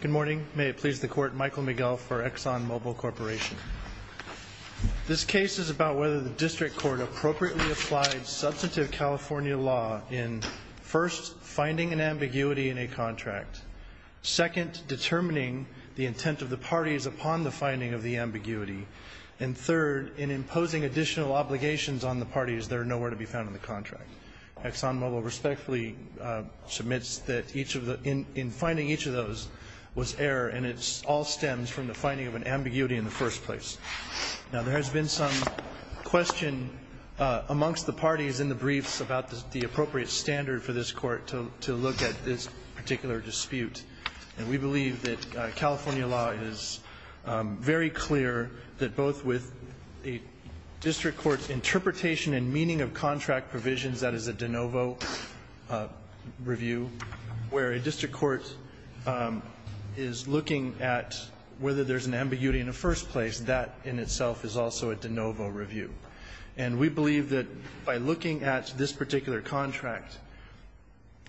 Good morning. May it please the Court, Michael Miguel for Exxon Mobil Corporation. This case is about whether the District Court appropriately applied substantive California law in, first, finding an ambiguity in a contract, second, determining the intent of the parties upon the finding of the ambiguity, and third, in imposing additional obligations on the parties that are nowhere to be found in the contract. Exxon Mobil respectfully submits that in finding each of those was error, and it all stems from the finding of an ambiguity in the first place. Now there has been some question amongst the parties in the briefs about the appropriate standard for this Court to look at this particular dispute. And we believe that California law is very clear that both with a District Court's interpretation and meaning of contract provisions, that is a de novo review, where a District Court is looking at whether there's an ambiguity in the first place, that in itself is also a de novo review. And we believe that by looking at this particular contract,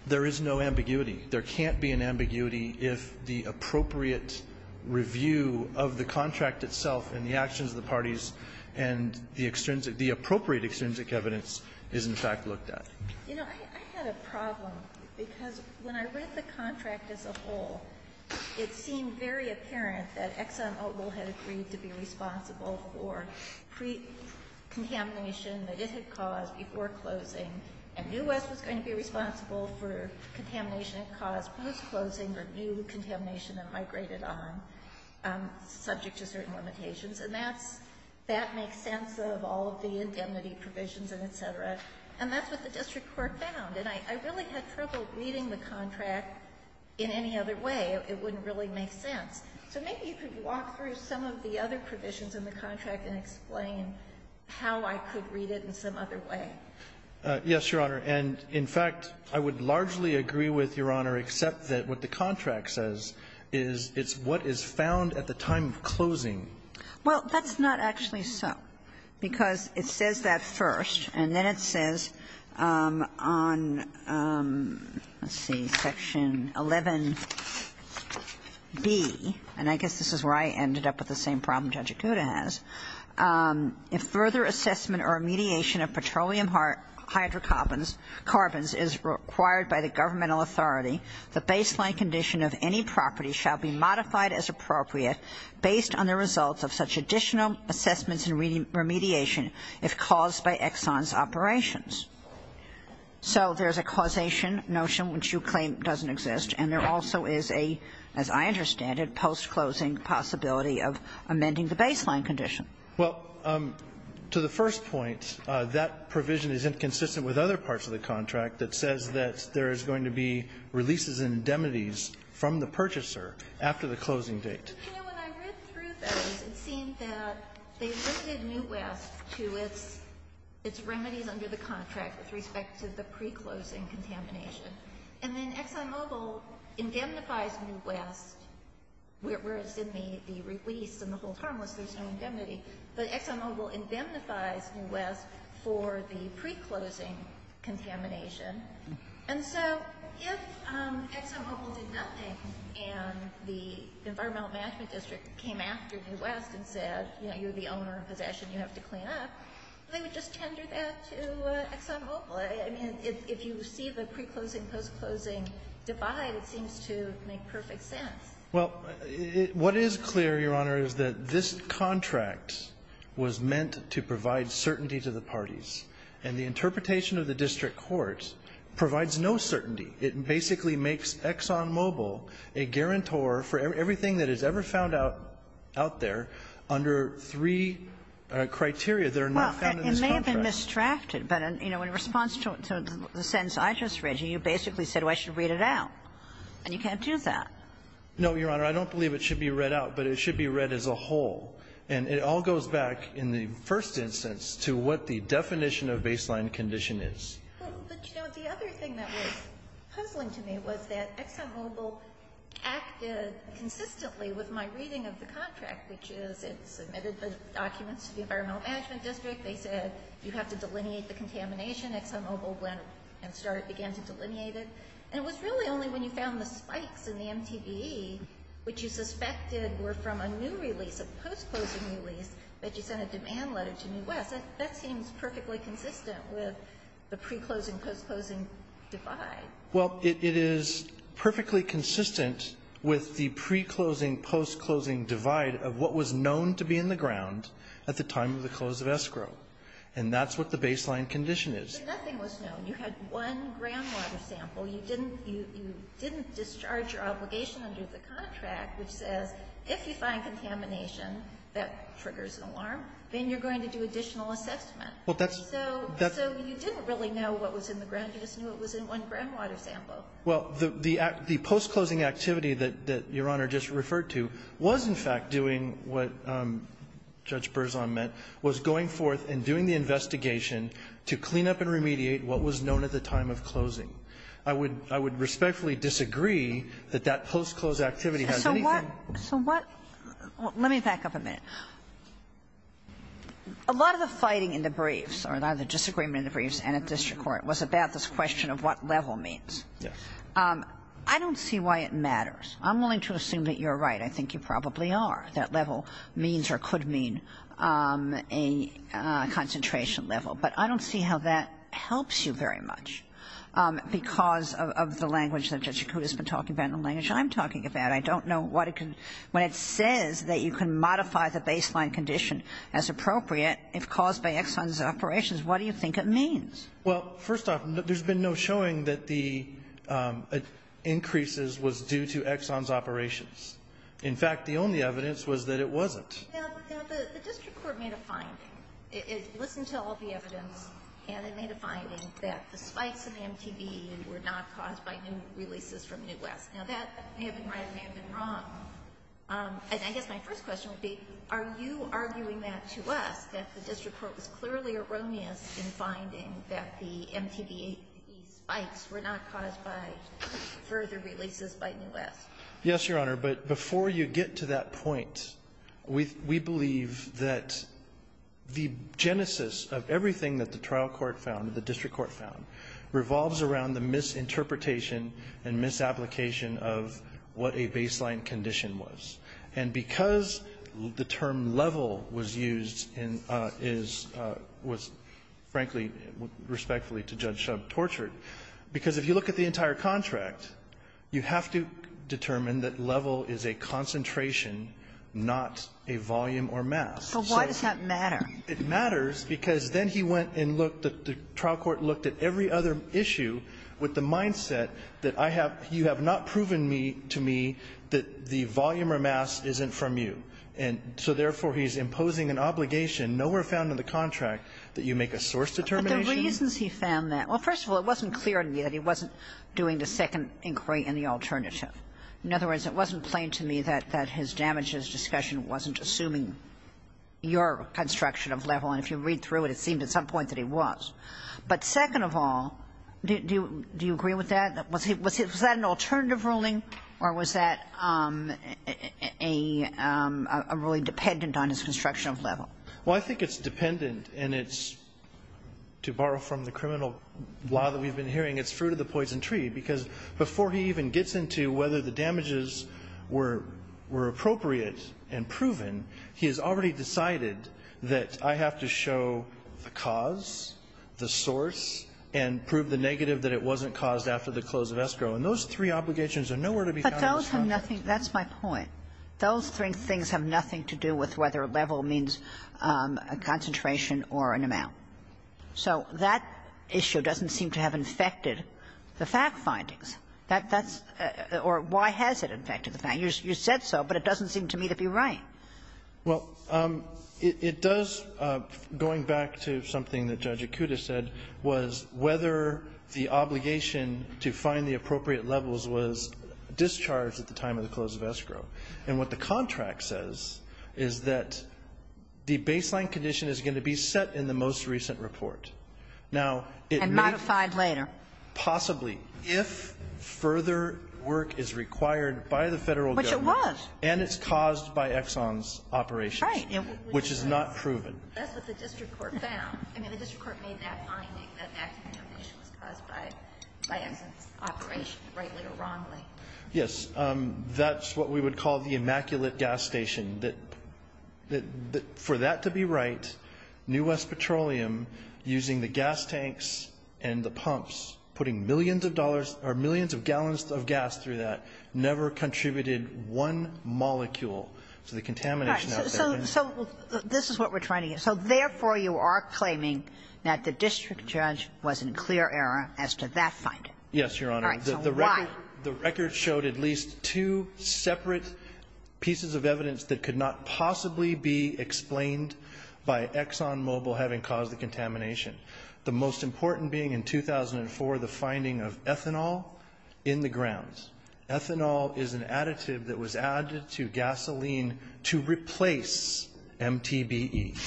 there is no ambiguity. There can't be an ambiguity if the appropriate review of the contract itself and the actions of the parties and the appropriate extrinsic evidence is in fact looked at. Ginsburg. You know, I had a problem, because when I read the contract as a whole, it seemed very apparent that Exxon Mobil had agreed to be responsible for pre-contamination that it had caused before closing, and New West was going to be responsible for contamination it caused post-closing or new contamination that migrated on subject to certain limitations. And that makes sense of all of the indemnity provisions and et cetera. And that's what the District Court found. And I really had trouble reading the contract in any other way. It wouldn't really make sense. So maybe you could walk through some of the other provisions in the contract and explain how I could read it in some other way. Yes, Your Honor. And in fact, I would largely agree with Your Honor, except that what the contract says is it's what is found at the time of closing. Well, that's not actually so, because it says that first. And then it says on, let's see, Section 11b, and I guess this is where I ended up with the same problem Judge Acuda has, if further assessment or mediation of petroleum hydrocarbons is required by the governmental authority, the baseline condition of any property shall be modified as appropriate based on the results of such additional assessments and remediation if caused by Exxon's operations. So there's a causation notion which you claim doesn't exist, and there also is a, as I understand it, post-closing possibility of amending the baseline condition. Well, to the first point, that provision is inconsistent with other parts of the contract that says that there is going to be releases and indemnities from the purchaser after the closing date. You know, when I read through those, it seemed that they limited New West to its remedies under the contract with respect to the pre-closing contamination. And then ExxonMobil indemnifies New West, whereas in the release and the whole term it says there's no indemnity. But ExxonMobil indemnifies New West for the pre-closing contamination. And so if ExxonMobil did nothing and the Environmental Management District came after New West and said, you know, you're the owner of possession, you have to clean up, they would just tender that to ExxonMobil. I mean, if you see the pre-closing, post-closing divide, it seems to make perfect sense. Well, what is clear, Your Honor, is that this contract was meant to provide certainty to the parties. And the interpretation of the district court provides no certainty. It basically makes ExxonMobil a guarantor for everything that is ever found out there under three criteria that are not found in this contract. Well, it may have been misdrafted, but, you know, in response to the sentence I just read, you basically said, well, I should read it out. And you can't do that. No, Your Honor. I don't believe it should be read out, but it should be read as a whole. And it all goes back in the first instance to what the definition of baseline condition is. But, you know, the other thing that was puzzling to me was that ExxonMobil acted consistently with my reading of the contract, which is it submitted the documents to the Environmental Management District. They said you have to delineate the contamination. ExxonMobil went and started, began to delineate it. And it was really only when you found the spikes in the MTV, which you suspected were from a new release, a post-closing release, that you sent a demand letter to New West. That seems perfectly consistent with the pre-closing, post-closing divide. Well, it is perfectly consistent with the pre-closing, post-closing divide of what was known to be in the ground at the time of the close of escrow. And that's what the baseline condition is. But nothing was known. You had one groundwater sample. You didn't discharge your obligation under the contract, which says if you find contamination, that triggers an alarm, then you're going to do additional assessment. So you didn't really know what was in the ground. You just knew it was in one groundwater sample. Well, the post-closing activity that Your Honor just referred to was, in fact, doing what Judge Berzon meant, was going forth and doing the investigation to clean up and find out what was known at the time of closing. I would respectfully disagree that that post-close activity has anything. So what – let me back up a minute. A lot of the fighting in the briefs, or a lot of the disagreement in the briefs and at district court, was about this question of what level means. Yes. I don't see why it matters. I'm willing to assume that you're right. I think you probably are, that level means or could mean a concentration level. But I don't see how that helps you very much because of the language that Judge Yakuta's been talking about and the language I'm talking about. I don't know what it can – when it says that you can modify the baseline condition as appropriate if caused by Exxon's operations, what do you think it means? Well, first off, there's been no showing that the increases was due to Exxon's operations. In fact, the only evidence was that it wasn't. Now, the district court made a finding. It listened to all the evidence, and it made a finding that the spikes in the MTVE were not caused by new releases from New West. Now, that may have been right. It may have been wrong. And I guess my first question would be, are you arguing that to us, that the district court was clearly erroneous in finding that the MTVE spikes were not caused by further releases by New West? Yes, Your Honor. But before you get to that point, we believe that the genesis of everything that the trial court found, the district court found, revolves around the misinterpretation and misapplication of what a baseline condition was. And because the term level was used in – is – was, frankly, respectfully to Judge Shub, tortured, because if you look at the entire contract, you have to determine that level is a concentration, not a volume or mass. So why does that matter? It matters because then he went and looked at the trial court, looked at every other issue with the mindset that I have – you have not proven me – to me that the volume or mass isn't from you. And so therefore, he's imposing an obligation nowhere found in the contract that you make a source determination. But the reasons he found that – well, first of all, it wasn't clear to me that he wasn't doing the second inquiry and the alternative. In other words, it wasn't plain to me that his damages discussion wasn't assuming your construction of level. And if you read through it, it seemed at some point that he was. But second of all, do you agree with that? Was that an alternative ruling, or was that a ruling dependent on his construction of level? Well, I think it's dependent, and it's – to borrow from the criminal law that we've been hearing, it's fruit of the poison tree, because before he even gets into whether the damages were appropriate and proven, he has already decided that I have to show the cause, the source, and prove the negative that it wasn't caused after the close of escrow. And those three obligations are nowhere to be found in this contract. But those have nothing – that's my point. Those three things have nothing to do with whether level means a concentration or an amount. So that issue doesn't seem to have infected the fact findings. That's – or why has it infected the fact? You said so, but it doesn't seem to me to be right. Well, it does – going back to something that Judge Akuta said was whether the obligation to find the appropriate levels was discharged at the time of the close of escrow. And what the contract says is that the baseline condition is going to be set in the most recent report. Now, it may – And modified later. Possibly, if further work is required by the Federal government. Which it was. And it's caused by Exxon's operations. Right. Which is not proven. That's what the district court found. I mean, the district court made that finding that that contamination was caused by Exxon's operation, rightly or wrongly. Yes. That's what we would call the immaculate gas station. That for that to be right, New West Petroleum, using the gas tanks and the pumps, putting millions of dollars – or millions of gallons of gas through that, never contributed one molecule to the contamination out there. All right. So this is what we're trying to get. So therefore, you are claiming that the district judge was in clear error as to that finding. Yes, Your Honor. All right. So why? The record showed at least two separate pieces of evidence that could not possibly be explained by Exxon Mobil having caused the contamination. The most important being, in 2004, the finding of ethanol in the grounds. Ethanol is an additive that was added to gasoline to replace MTBE.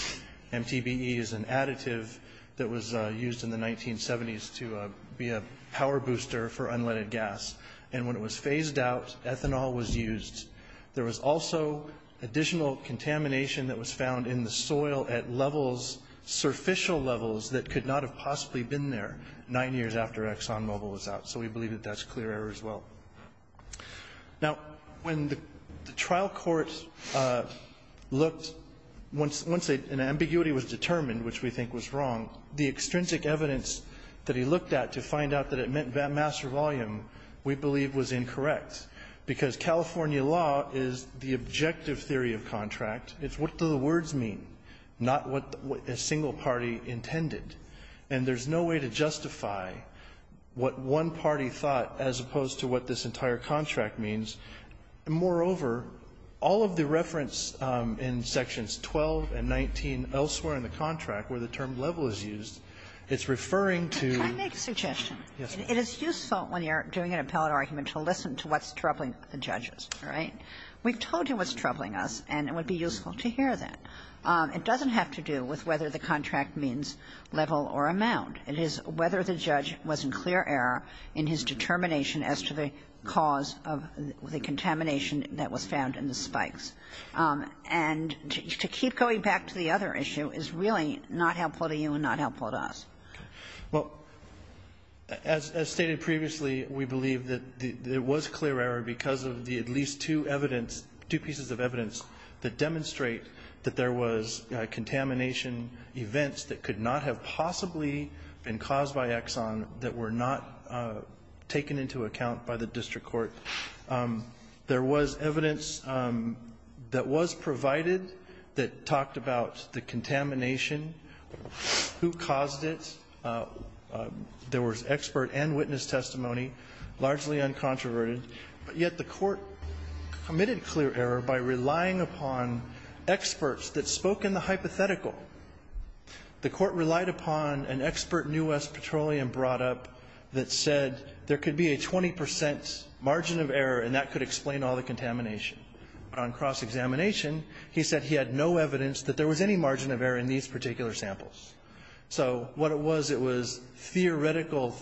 MTBE is an additive that was used in the 1970s to be a power booster for unleaded gas. And when it was phased out, ethanol was used. There was also additional contamination that was found in the soil at levels, surficial levels, that could not have possibly been there nine years after Exxon Mobil was out. So we believe that that's clear error as well. Now, when the trial court looked, once an ambiguity was determined, which we think was wrong, the extrinsic evidence that he looked at to find out that it meant mass or volume, we believe, was incorrect. Because California law is the objective theory of contract. It's what do the words mean, not what a single party intended. And there's no way to justify what one party thought as opposed to what this entire contract means. And moreover, all of the reference in sections 12 and 19 elsewhere in the contract where the term level was used, it's referring to the ex marin. Kagan. Can I make a suggestion? Yes. It is useful when you're doing an appellate argument to listen to what's troubling the judges, right? We've told you what's troubling us and it would be useful to hear that. It doesn't have to do with whether the contract means level or amount. It is whether the judge was in clear error in his determination as to the cause of the contamination that was found in the spikes. And to keep going back to the other issue is really not helpful to you and not helpful to us. Well, as stated previously, we believe that there was clear error because of the least two evidence, two pieces of evidence that demonstrate that there was contamination events that could not have possibly been caused by Exxon that were not taken into account by the district court. There was evidence that was provided that talked about the contamination, who caused it. There was expert and witness testimony, largely uncontroverted. But yet the court committed clear error by relying upon experts that spoke in the hypothetical. The court relied upon an expert New West Petroleum brought up that said there could be a 20 percent margin of error and that could explain all the contamination. On cross-examination, he said he had no evidence that there was any margin of error in these particular samples. So what it was, it was theoretical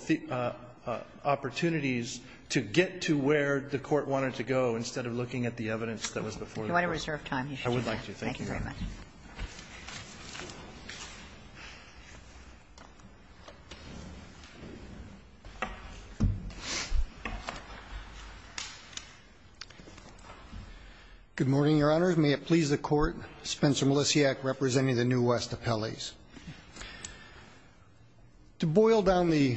opportunities to get to where the court wanted to go instead of looking at the evidence that was before the court. You want to reserve time. I would like to. Thank you very much. May it please the Court. Spencer Melisiak representing the New West Appellees. To boil down the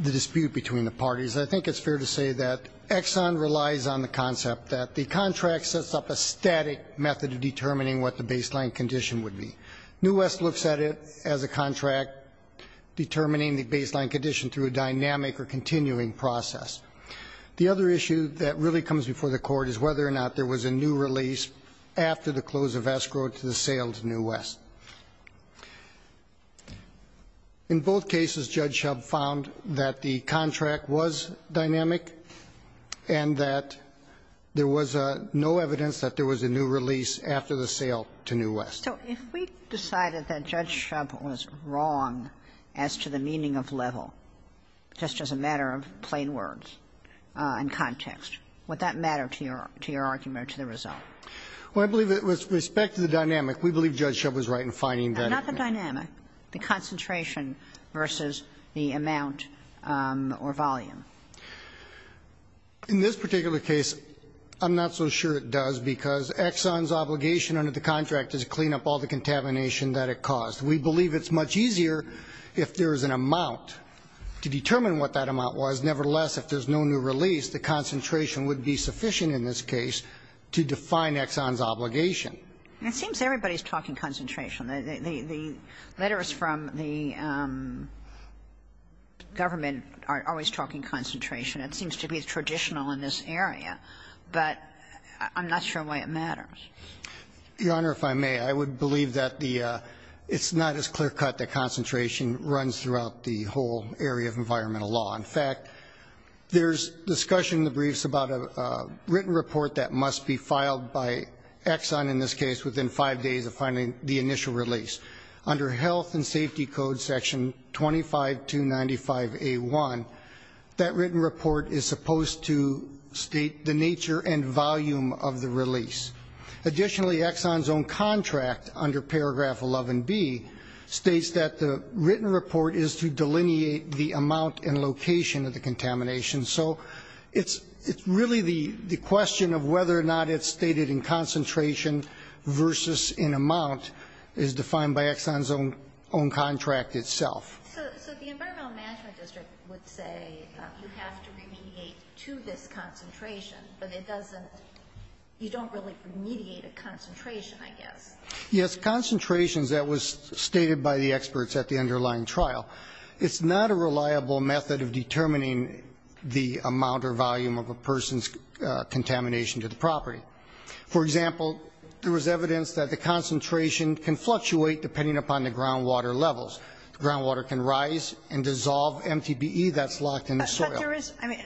dispute between the parties, I think it's fair to say that Exxon relies on the concept that the contract sets up a static method of determining what the baseline condition would be. New West looks at it as a contract determining the baseline condition through a dynamic or continuing process. The other issue that really comes before the court is whether or not there was a new release after the close of escrow to the sale to New West. In both cases, Judge Shub found that the contract was dynamic and that there was no evidence that there was a new release after the sale to New West. So if we decided that Judge Shub was wrong as to the meaning of level, just as a matter of plain words and context, would that matter to your argument or to the result? Well, I believe that with respect to the dynamic, we believe Judge Shub was right in finding that. Not the dynamic. The concentration versus the amount or volume. In this particular case, I'm not so sure it does because Exxon's obligation under the contract is to clean up all the contamination that it caused. We believe it's much easier if there is an amount to determine what that amount was. Nevertheless, if there's no new release, the concentration would be sufficient in this case to define Exxon's obligation. It seems everybody's talking concentration. The letters from the government are always talking concentration. It seems to be traditional in this area. But I'm not sure why it matters. Your Honor, if I may, I would believe that it's not as clear cut that concentration runs throughout the whole area of environmental law. In fact, there's discussion in the briefs about a written report that must be filed by Exxon in this case within five days of finding the initial release. Under Health and Safety Code Section 25295A1, that written report is supposed to state the nature and volume of the release. Additionally, Exxon's own contract under Paragraph 11B states that the written report is to delineate the amount and location of the contamination. So it's really the question of whether or not it's stated in concentration versus in amount is defined by Exxon's own contract itself. So the Environmental Management District would say you have to remediate to this concentration, I guess. Yes, concentrations, that was stated by the experts at the underlying trial. It's not a reliable method of determining the amount or volume of a person's contamination to the property. For example, there was evidence that the concentration can fluctuate depending upon the groundwater levels. Groundwater can rise and dissolve MTBE that's locked in the soil. But there is, I mean,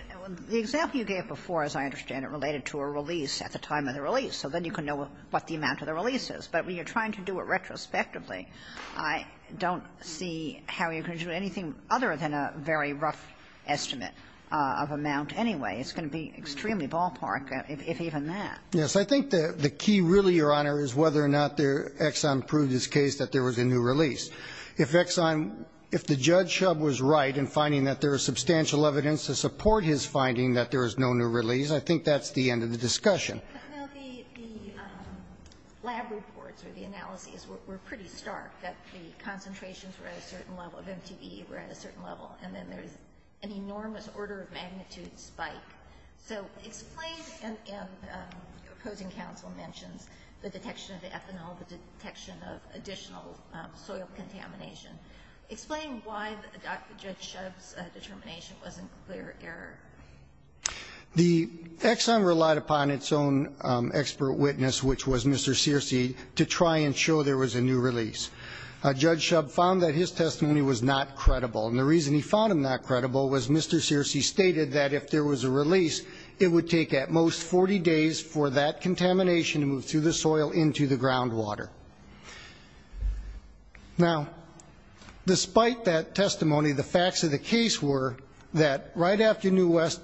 the example you gave before, as I understand it, at the time of the release. So then you can know what the amount of the release is. But when you're trying to do it retrospectively, I don't see how you can do anything other than a very rough estimate of amount anyway. It's going to be extremely ballpark, if even that. Yes. I think the key really, Your Honor, is whether or not Exxon proved his case that there was a new release. If Exxon, if the judge was right in finding that there is substantial evidence to support his finding that there is no new release, I think that's the end of the discussion. Now, the lab reports or the analyses were pretty stark, that the concentrations were at a certain level, of MTBE were at a certain level. And then there's an enormous order of magnitude spike. So explain, and opposing counsel mentions the detection of ethanol, the detection of additional soil contamination. Explain why Judge Shub's determination wasn't clear error. The Exxon relied upon its own expert witness, which was Mr. Searcy, to try and show there was a new release. Judge Shub found that his testimony was not credible. And the reason he found him not credible was Mr. Searcy stated that if there was a release, it would take at most 40 days for that contamination to move through the soil into the groundwater. Now, despite that testimony, the facts of the case were that right after New West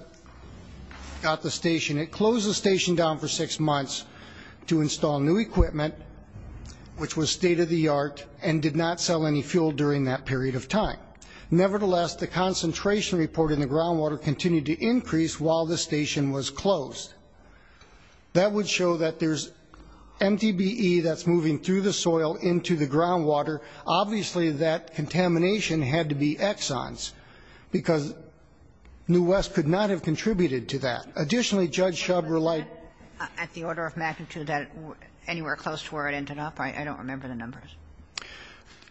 got the station, it closed the station down for six months to install new equipment, which was state-of-the-art and did not sell any fuel during that period of time. Nevertheless, the concentration report in the groundwater continued to increase while the station was closed. That would show that there's MDBE that's moving through the soil into the groundwater. Obviously, that contamination had to be Exxons, because New West could not have contributed to that. Additionally, Judge Shub relied at the order of magnitude that anywhere close to where it ended up. I don't remember the numbers.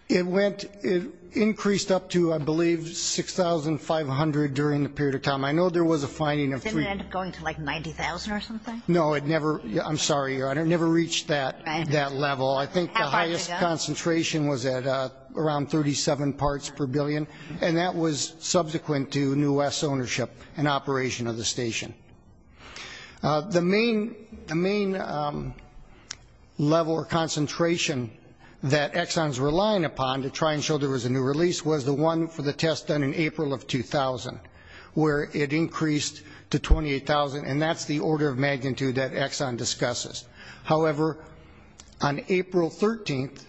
It went, it increased up to, I believe, 6,500 during the period of time. I know there was a finding of three. Did it end up going to like 90,000 or something? No, it never. I'm sorry, Your Honor. It never reached that level. I think the highest concentration was at around 37 parts per billion, and that was subsequent to New West's ownership and operation of the station. The main level or concentration that Exxons were relying upon to try and show there was a new release was the one for the test done in April of 2000, where it increased to 28,000, and that's the order of magnitude that Exxon discusses. However, on April 13th,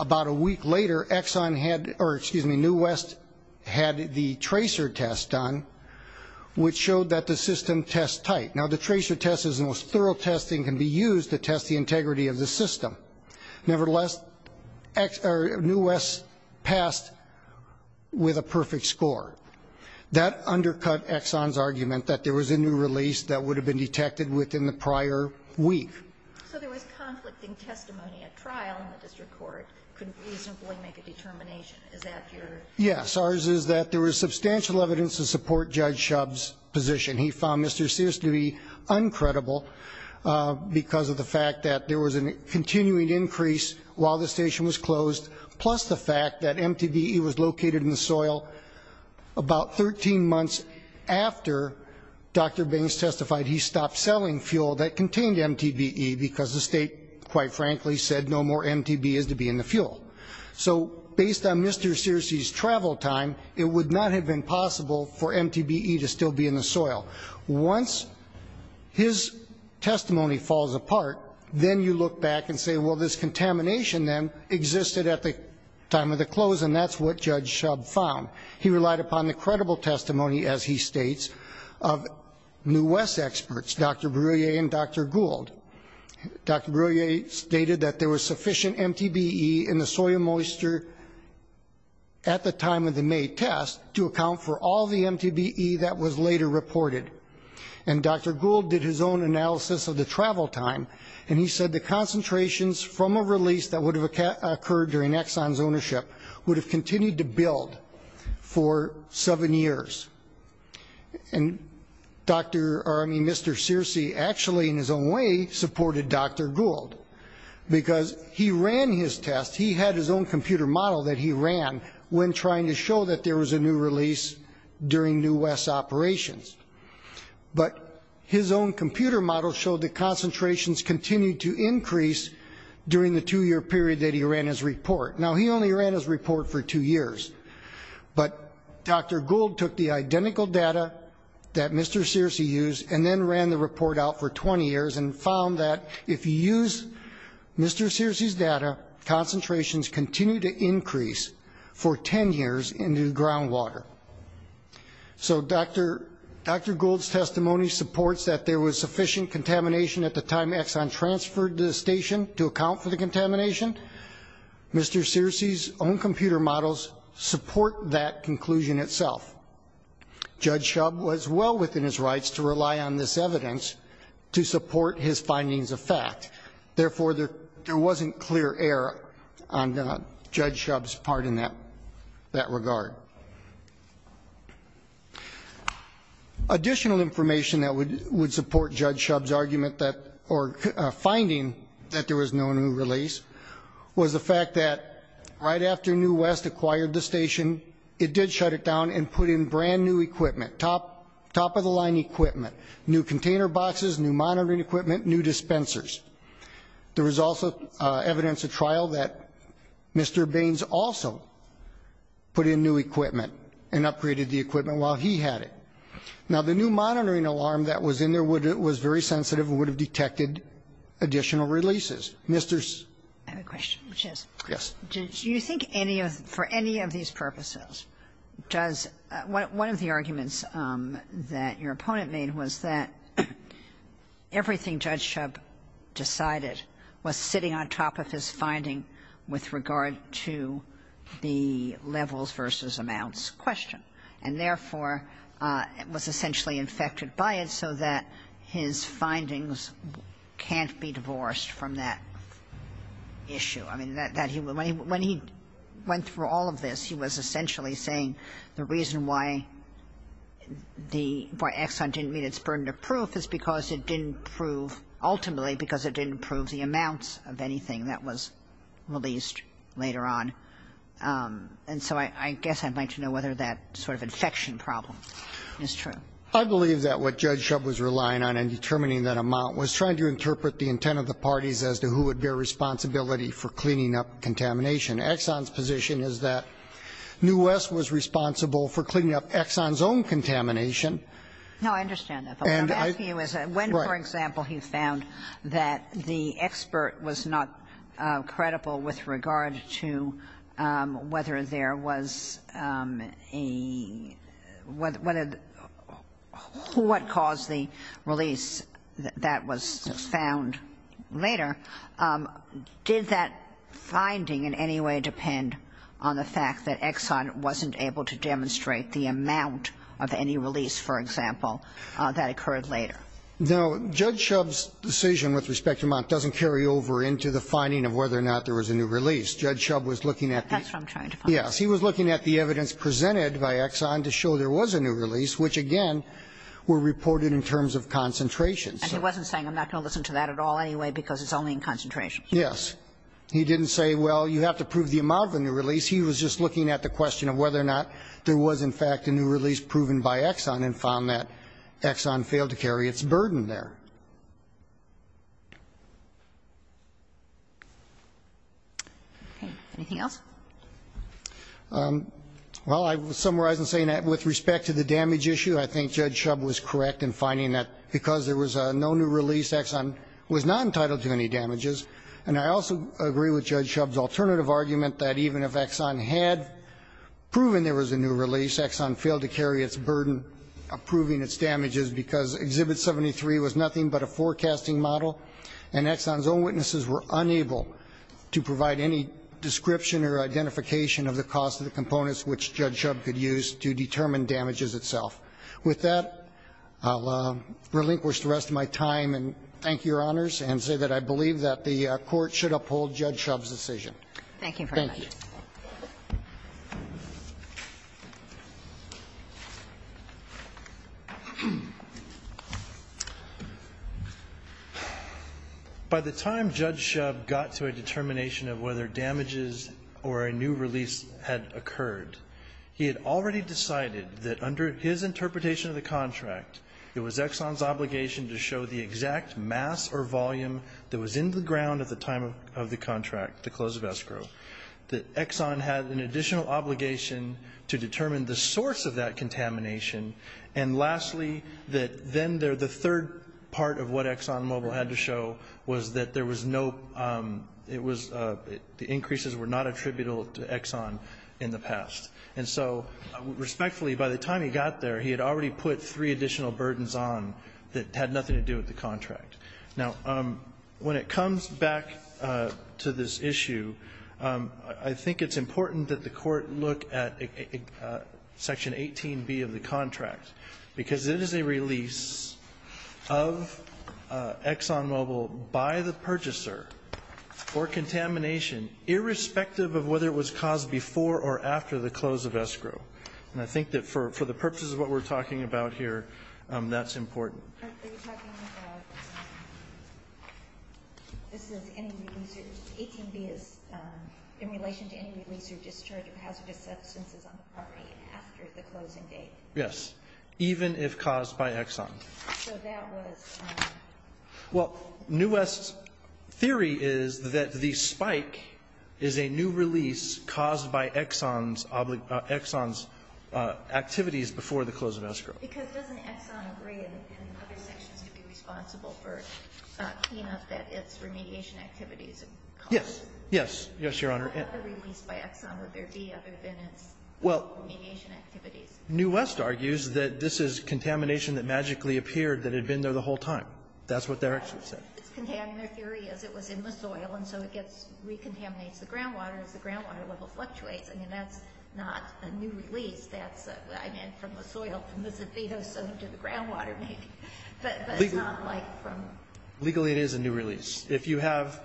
about a week later, Exxon had, or excuse me, New West had the tracer test done, which showed that the system tests tight. Now, the tracer test is the most thorough test that can be used to test the integrity of the system. Nevertheless, New West passed with a perfect score. That undercut Exxon's argument that there was a new release that would have been detected within the prior week. So there was conflict in testimony at trial in the district court could reasonably make a determination. Is that your... Yes. Ours is that there was substantial evidence to support Judge Shub's position. And he found Mr. Searcy to be uncredible because of the fact that there was a continuing increase while the station was closed, plus the fact that MTBE was located in the soil about 13 months after Dr. Baines testified he stopped selling fuel that contained MTBE because the state, quite frankly, said no more MTBE is to be in the fuel. So based on Mr. Searcy's travel time, it would not have been possible for MTBE to still be in the soil. Once his testimony falls apart, then you look back and say, well, this contamination then existed at the time of the close. And that's what Judge Shub found. He relied upon the credible testimony, as he states, of New West experts, Dr. Breuer and Dr. Gould. Dr. Breuer stated that there was sufficient MTBE in the soil moisture at the time of the test to account for all the MTBE that was later reported. And Dr. Gould did his own analysis of the travel time. And he said the concentrations from a release that would have occurred during Exxon's ownership would have continued to build for seven years. And Dr. Searcy actually, in his own way, supported Dr. Gould because he ran his test. He had his own computer model that he ran when trying to show that there was a new release during New West's operations. But his own computer model showed that concentrations continued to increase during the two-year period that he ran his report. Now, he only ran his report for two years. But Dr. Gould took the identical data that Mr. Searcy used and then ran the report out for 20 years and found that if you use Mr. Searcy's data, concentrations continue to increase for 10 years in the ground water. So Dr. Gould's testimony supports that there was sufficient contamination at the time Exxon transferred the station to account for the contamination. Mr. Searcy's own computer models support that conclusion itself. Judge Shub was well within his rights to rely on this evidence to support his findings of fact. Therefore, there wasn't clear error on Judge Shub's part in that regard. Additional information that would support Judge Shub's argument or finding that there was no new release was the fact that right after New West acquired the station, it did shut it down and put in brand-new equipment, top-of-the-line equipment, new container boxes, new monitoring equipment, new dispensers. There was also evidence at trial that Mr. Baines also put in new equipment and upgraded the equipment while he had it. Now, the new monitoring alarm that was in there was very sensitive and would have detected additional releases. Mr. Searcy. I have a question. Yes. Do you think any of, for any of these purposes, does one of the arguments that your opponent made was that everything Judge Shub decided was sitting on top of his finding with regard to the levels versus amounts question, and therefore was essentially infected by it so that his findings can't be divorced from that issue? I mean, when he went through all of this, he was essentially saying the reason why Exxon didn't meet its burden of proof is because it didn't prove, ultimately, because it didn't prove the amounts of anything that was released later on. And so I guess I'd like to know whether that sort of infection problem is true. I believe that what Judge Shub was relying on in determining that amount was trying to interpret the intent of the parties as to who would bear responsibility for cleaning up contamination. Exxon's position is that New West was responsible for cleaning up Exxon's own contamination. No, I understand that. But what I'm asking you is when, for example, he found that the expert was not credible with regard to whether there was a, what caused the release that was found later, did that finding in any way depend on the fact that Exxon wasn't able to demonstrate the amount of any release, for example, that occurred later? No. Judge Shub's decision with respect to amount doesn't carry over into the finding of whether or not there was a new release. Judge Shub was looking at the evidence presented by Exxon to show there was a new release, which, again, were reported in terms of concentration. And he wasn't saying I'm not going to listen to that at all anyway because it's only in concentration. Yes. He didn't say, well, you have to prove the amount of a new release. He was just looking at the question of whether or not there was, in fact, a new release proven by Exxon and found that Exxon failed to carry its burden there. Okay. Anything else? Well, I would summarize in saying that with respect to the damage issue, I think Judge Shub was correct in finding that because there was no new release, Exxon was not entitled to any damages. And I also agree with Judge Shub's alternative argument that even if Exxon had proven there was a new release, Exxon failed to carry its burden of proving its damages because Exhibit 73 was nothing but a forecasting model and Exxon's own witnesses were unable to provide any description or identification of the cost of the components which Judge Shub could use to determine damages itself. With that, I'll relinquish the rest of my time and thank Your Honors and say that I believe that the Court should uphold Judge Shub's decision. Thank you very much. Thank you. By the time Judge Shub got to a determination of whether damages or a new release had occurred, he had already decided that under his interpretation of the contract, it was Exxon's obligation to show the exact mass or volume that was in the ground at the time of the contract, the close of escrow. That Exxon had an additional obligation to determine the source of that contamination. And lastly, that then the third part of what ExxonMobil had to show was that there was no the increases were not attributable to Exxon in the past. And so respectfully, by the time he got there, he had already put three additional burdens on that had nothing to do with the contract. Now, when it comes back to this issue, I think it's important that the Court look at Section 18B of the contract because it is a release of ExxonMobil by the purchaser for contamination irrespective of whether it was caused before or after the close of escrow. And I think that for the purposes of what we're talking about here, that's important. Are you talking about this is any release or 18B is in relation to any release or discharge of hazardous substances on the property after the closing date? Yes, even if caused by Exxon. So that was? Well, New West's theory is that the spike is a new release caused by Exxon's activities before the close of escrow. Because doesn't Exxon agree in other sections to be responsible for cleanup at its remediation activities? Yes. Yes. Yes, Your Honor. How released by Exxon would there be other than its remediation activities? Well, New West argues that this is contamination that magically appeared that had been there the whole time. That's what they're actually saying. Its contaminant theory is it was in the soil, and so it gets recontaminates the groundwater as the groundwater level fluctuates. I mean, that's not a new release. That's, I mean, from the soil to the groundwater maybe. But it's not like from. Legally it is a new release. If you have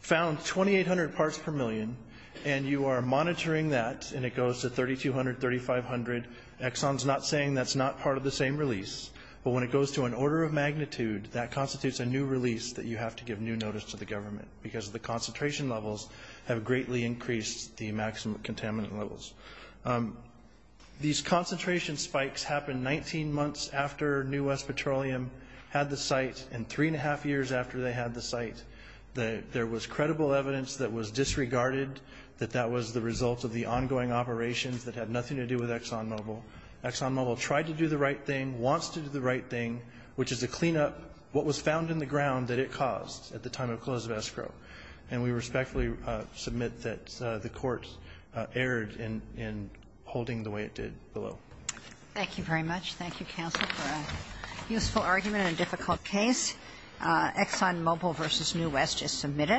found 2,800 parts per million and you are monitoring that, and it goes to 3,200, 3,500, Exxon's not saying that's not part of the same release. But when it goes to an order of magnitude, that constitutes a new release that you have to give new notice to the government because the concentration levels have greatly increased the maximum contaminant levels. These concentration spikes happened 19 months after New West Petroleum had the site and three and a half years after they had the site. There was credible evidence that was disregarded, that that was the result of the ongoing operations that had nothing to do with ExxonMobil. ExxonMobil tried to do the right thing, wants to do the right thing, which is to clean up what was found in the ground that it caused at the time of close of escrow. And we respectfully submit that the court erred in holding the way it did below. Thank you very much. Thank you, counsel, for a useful argument in a difficult case. ExxonMobil v. New West is submitted.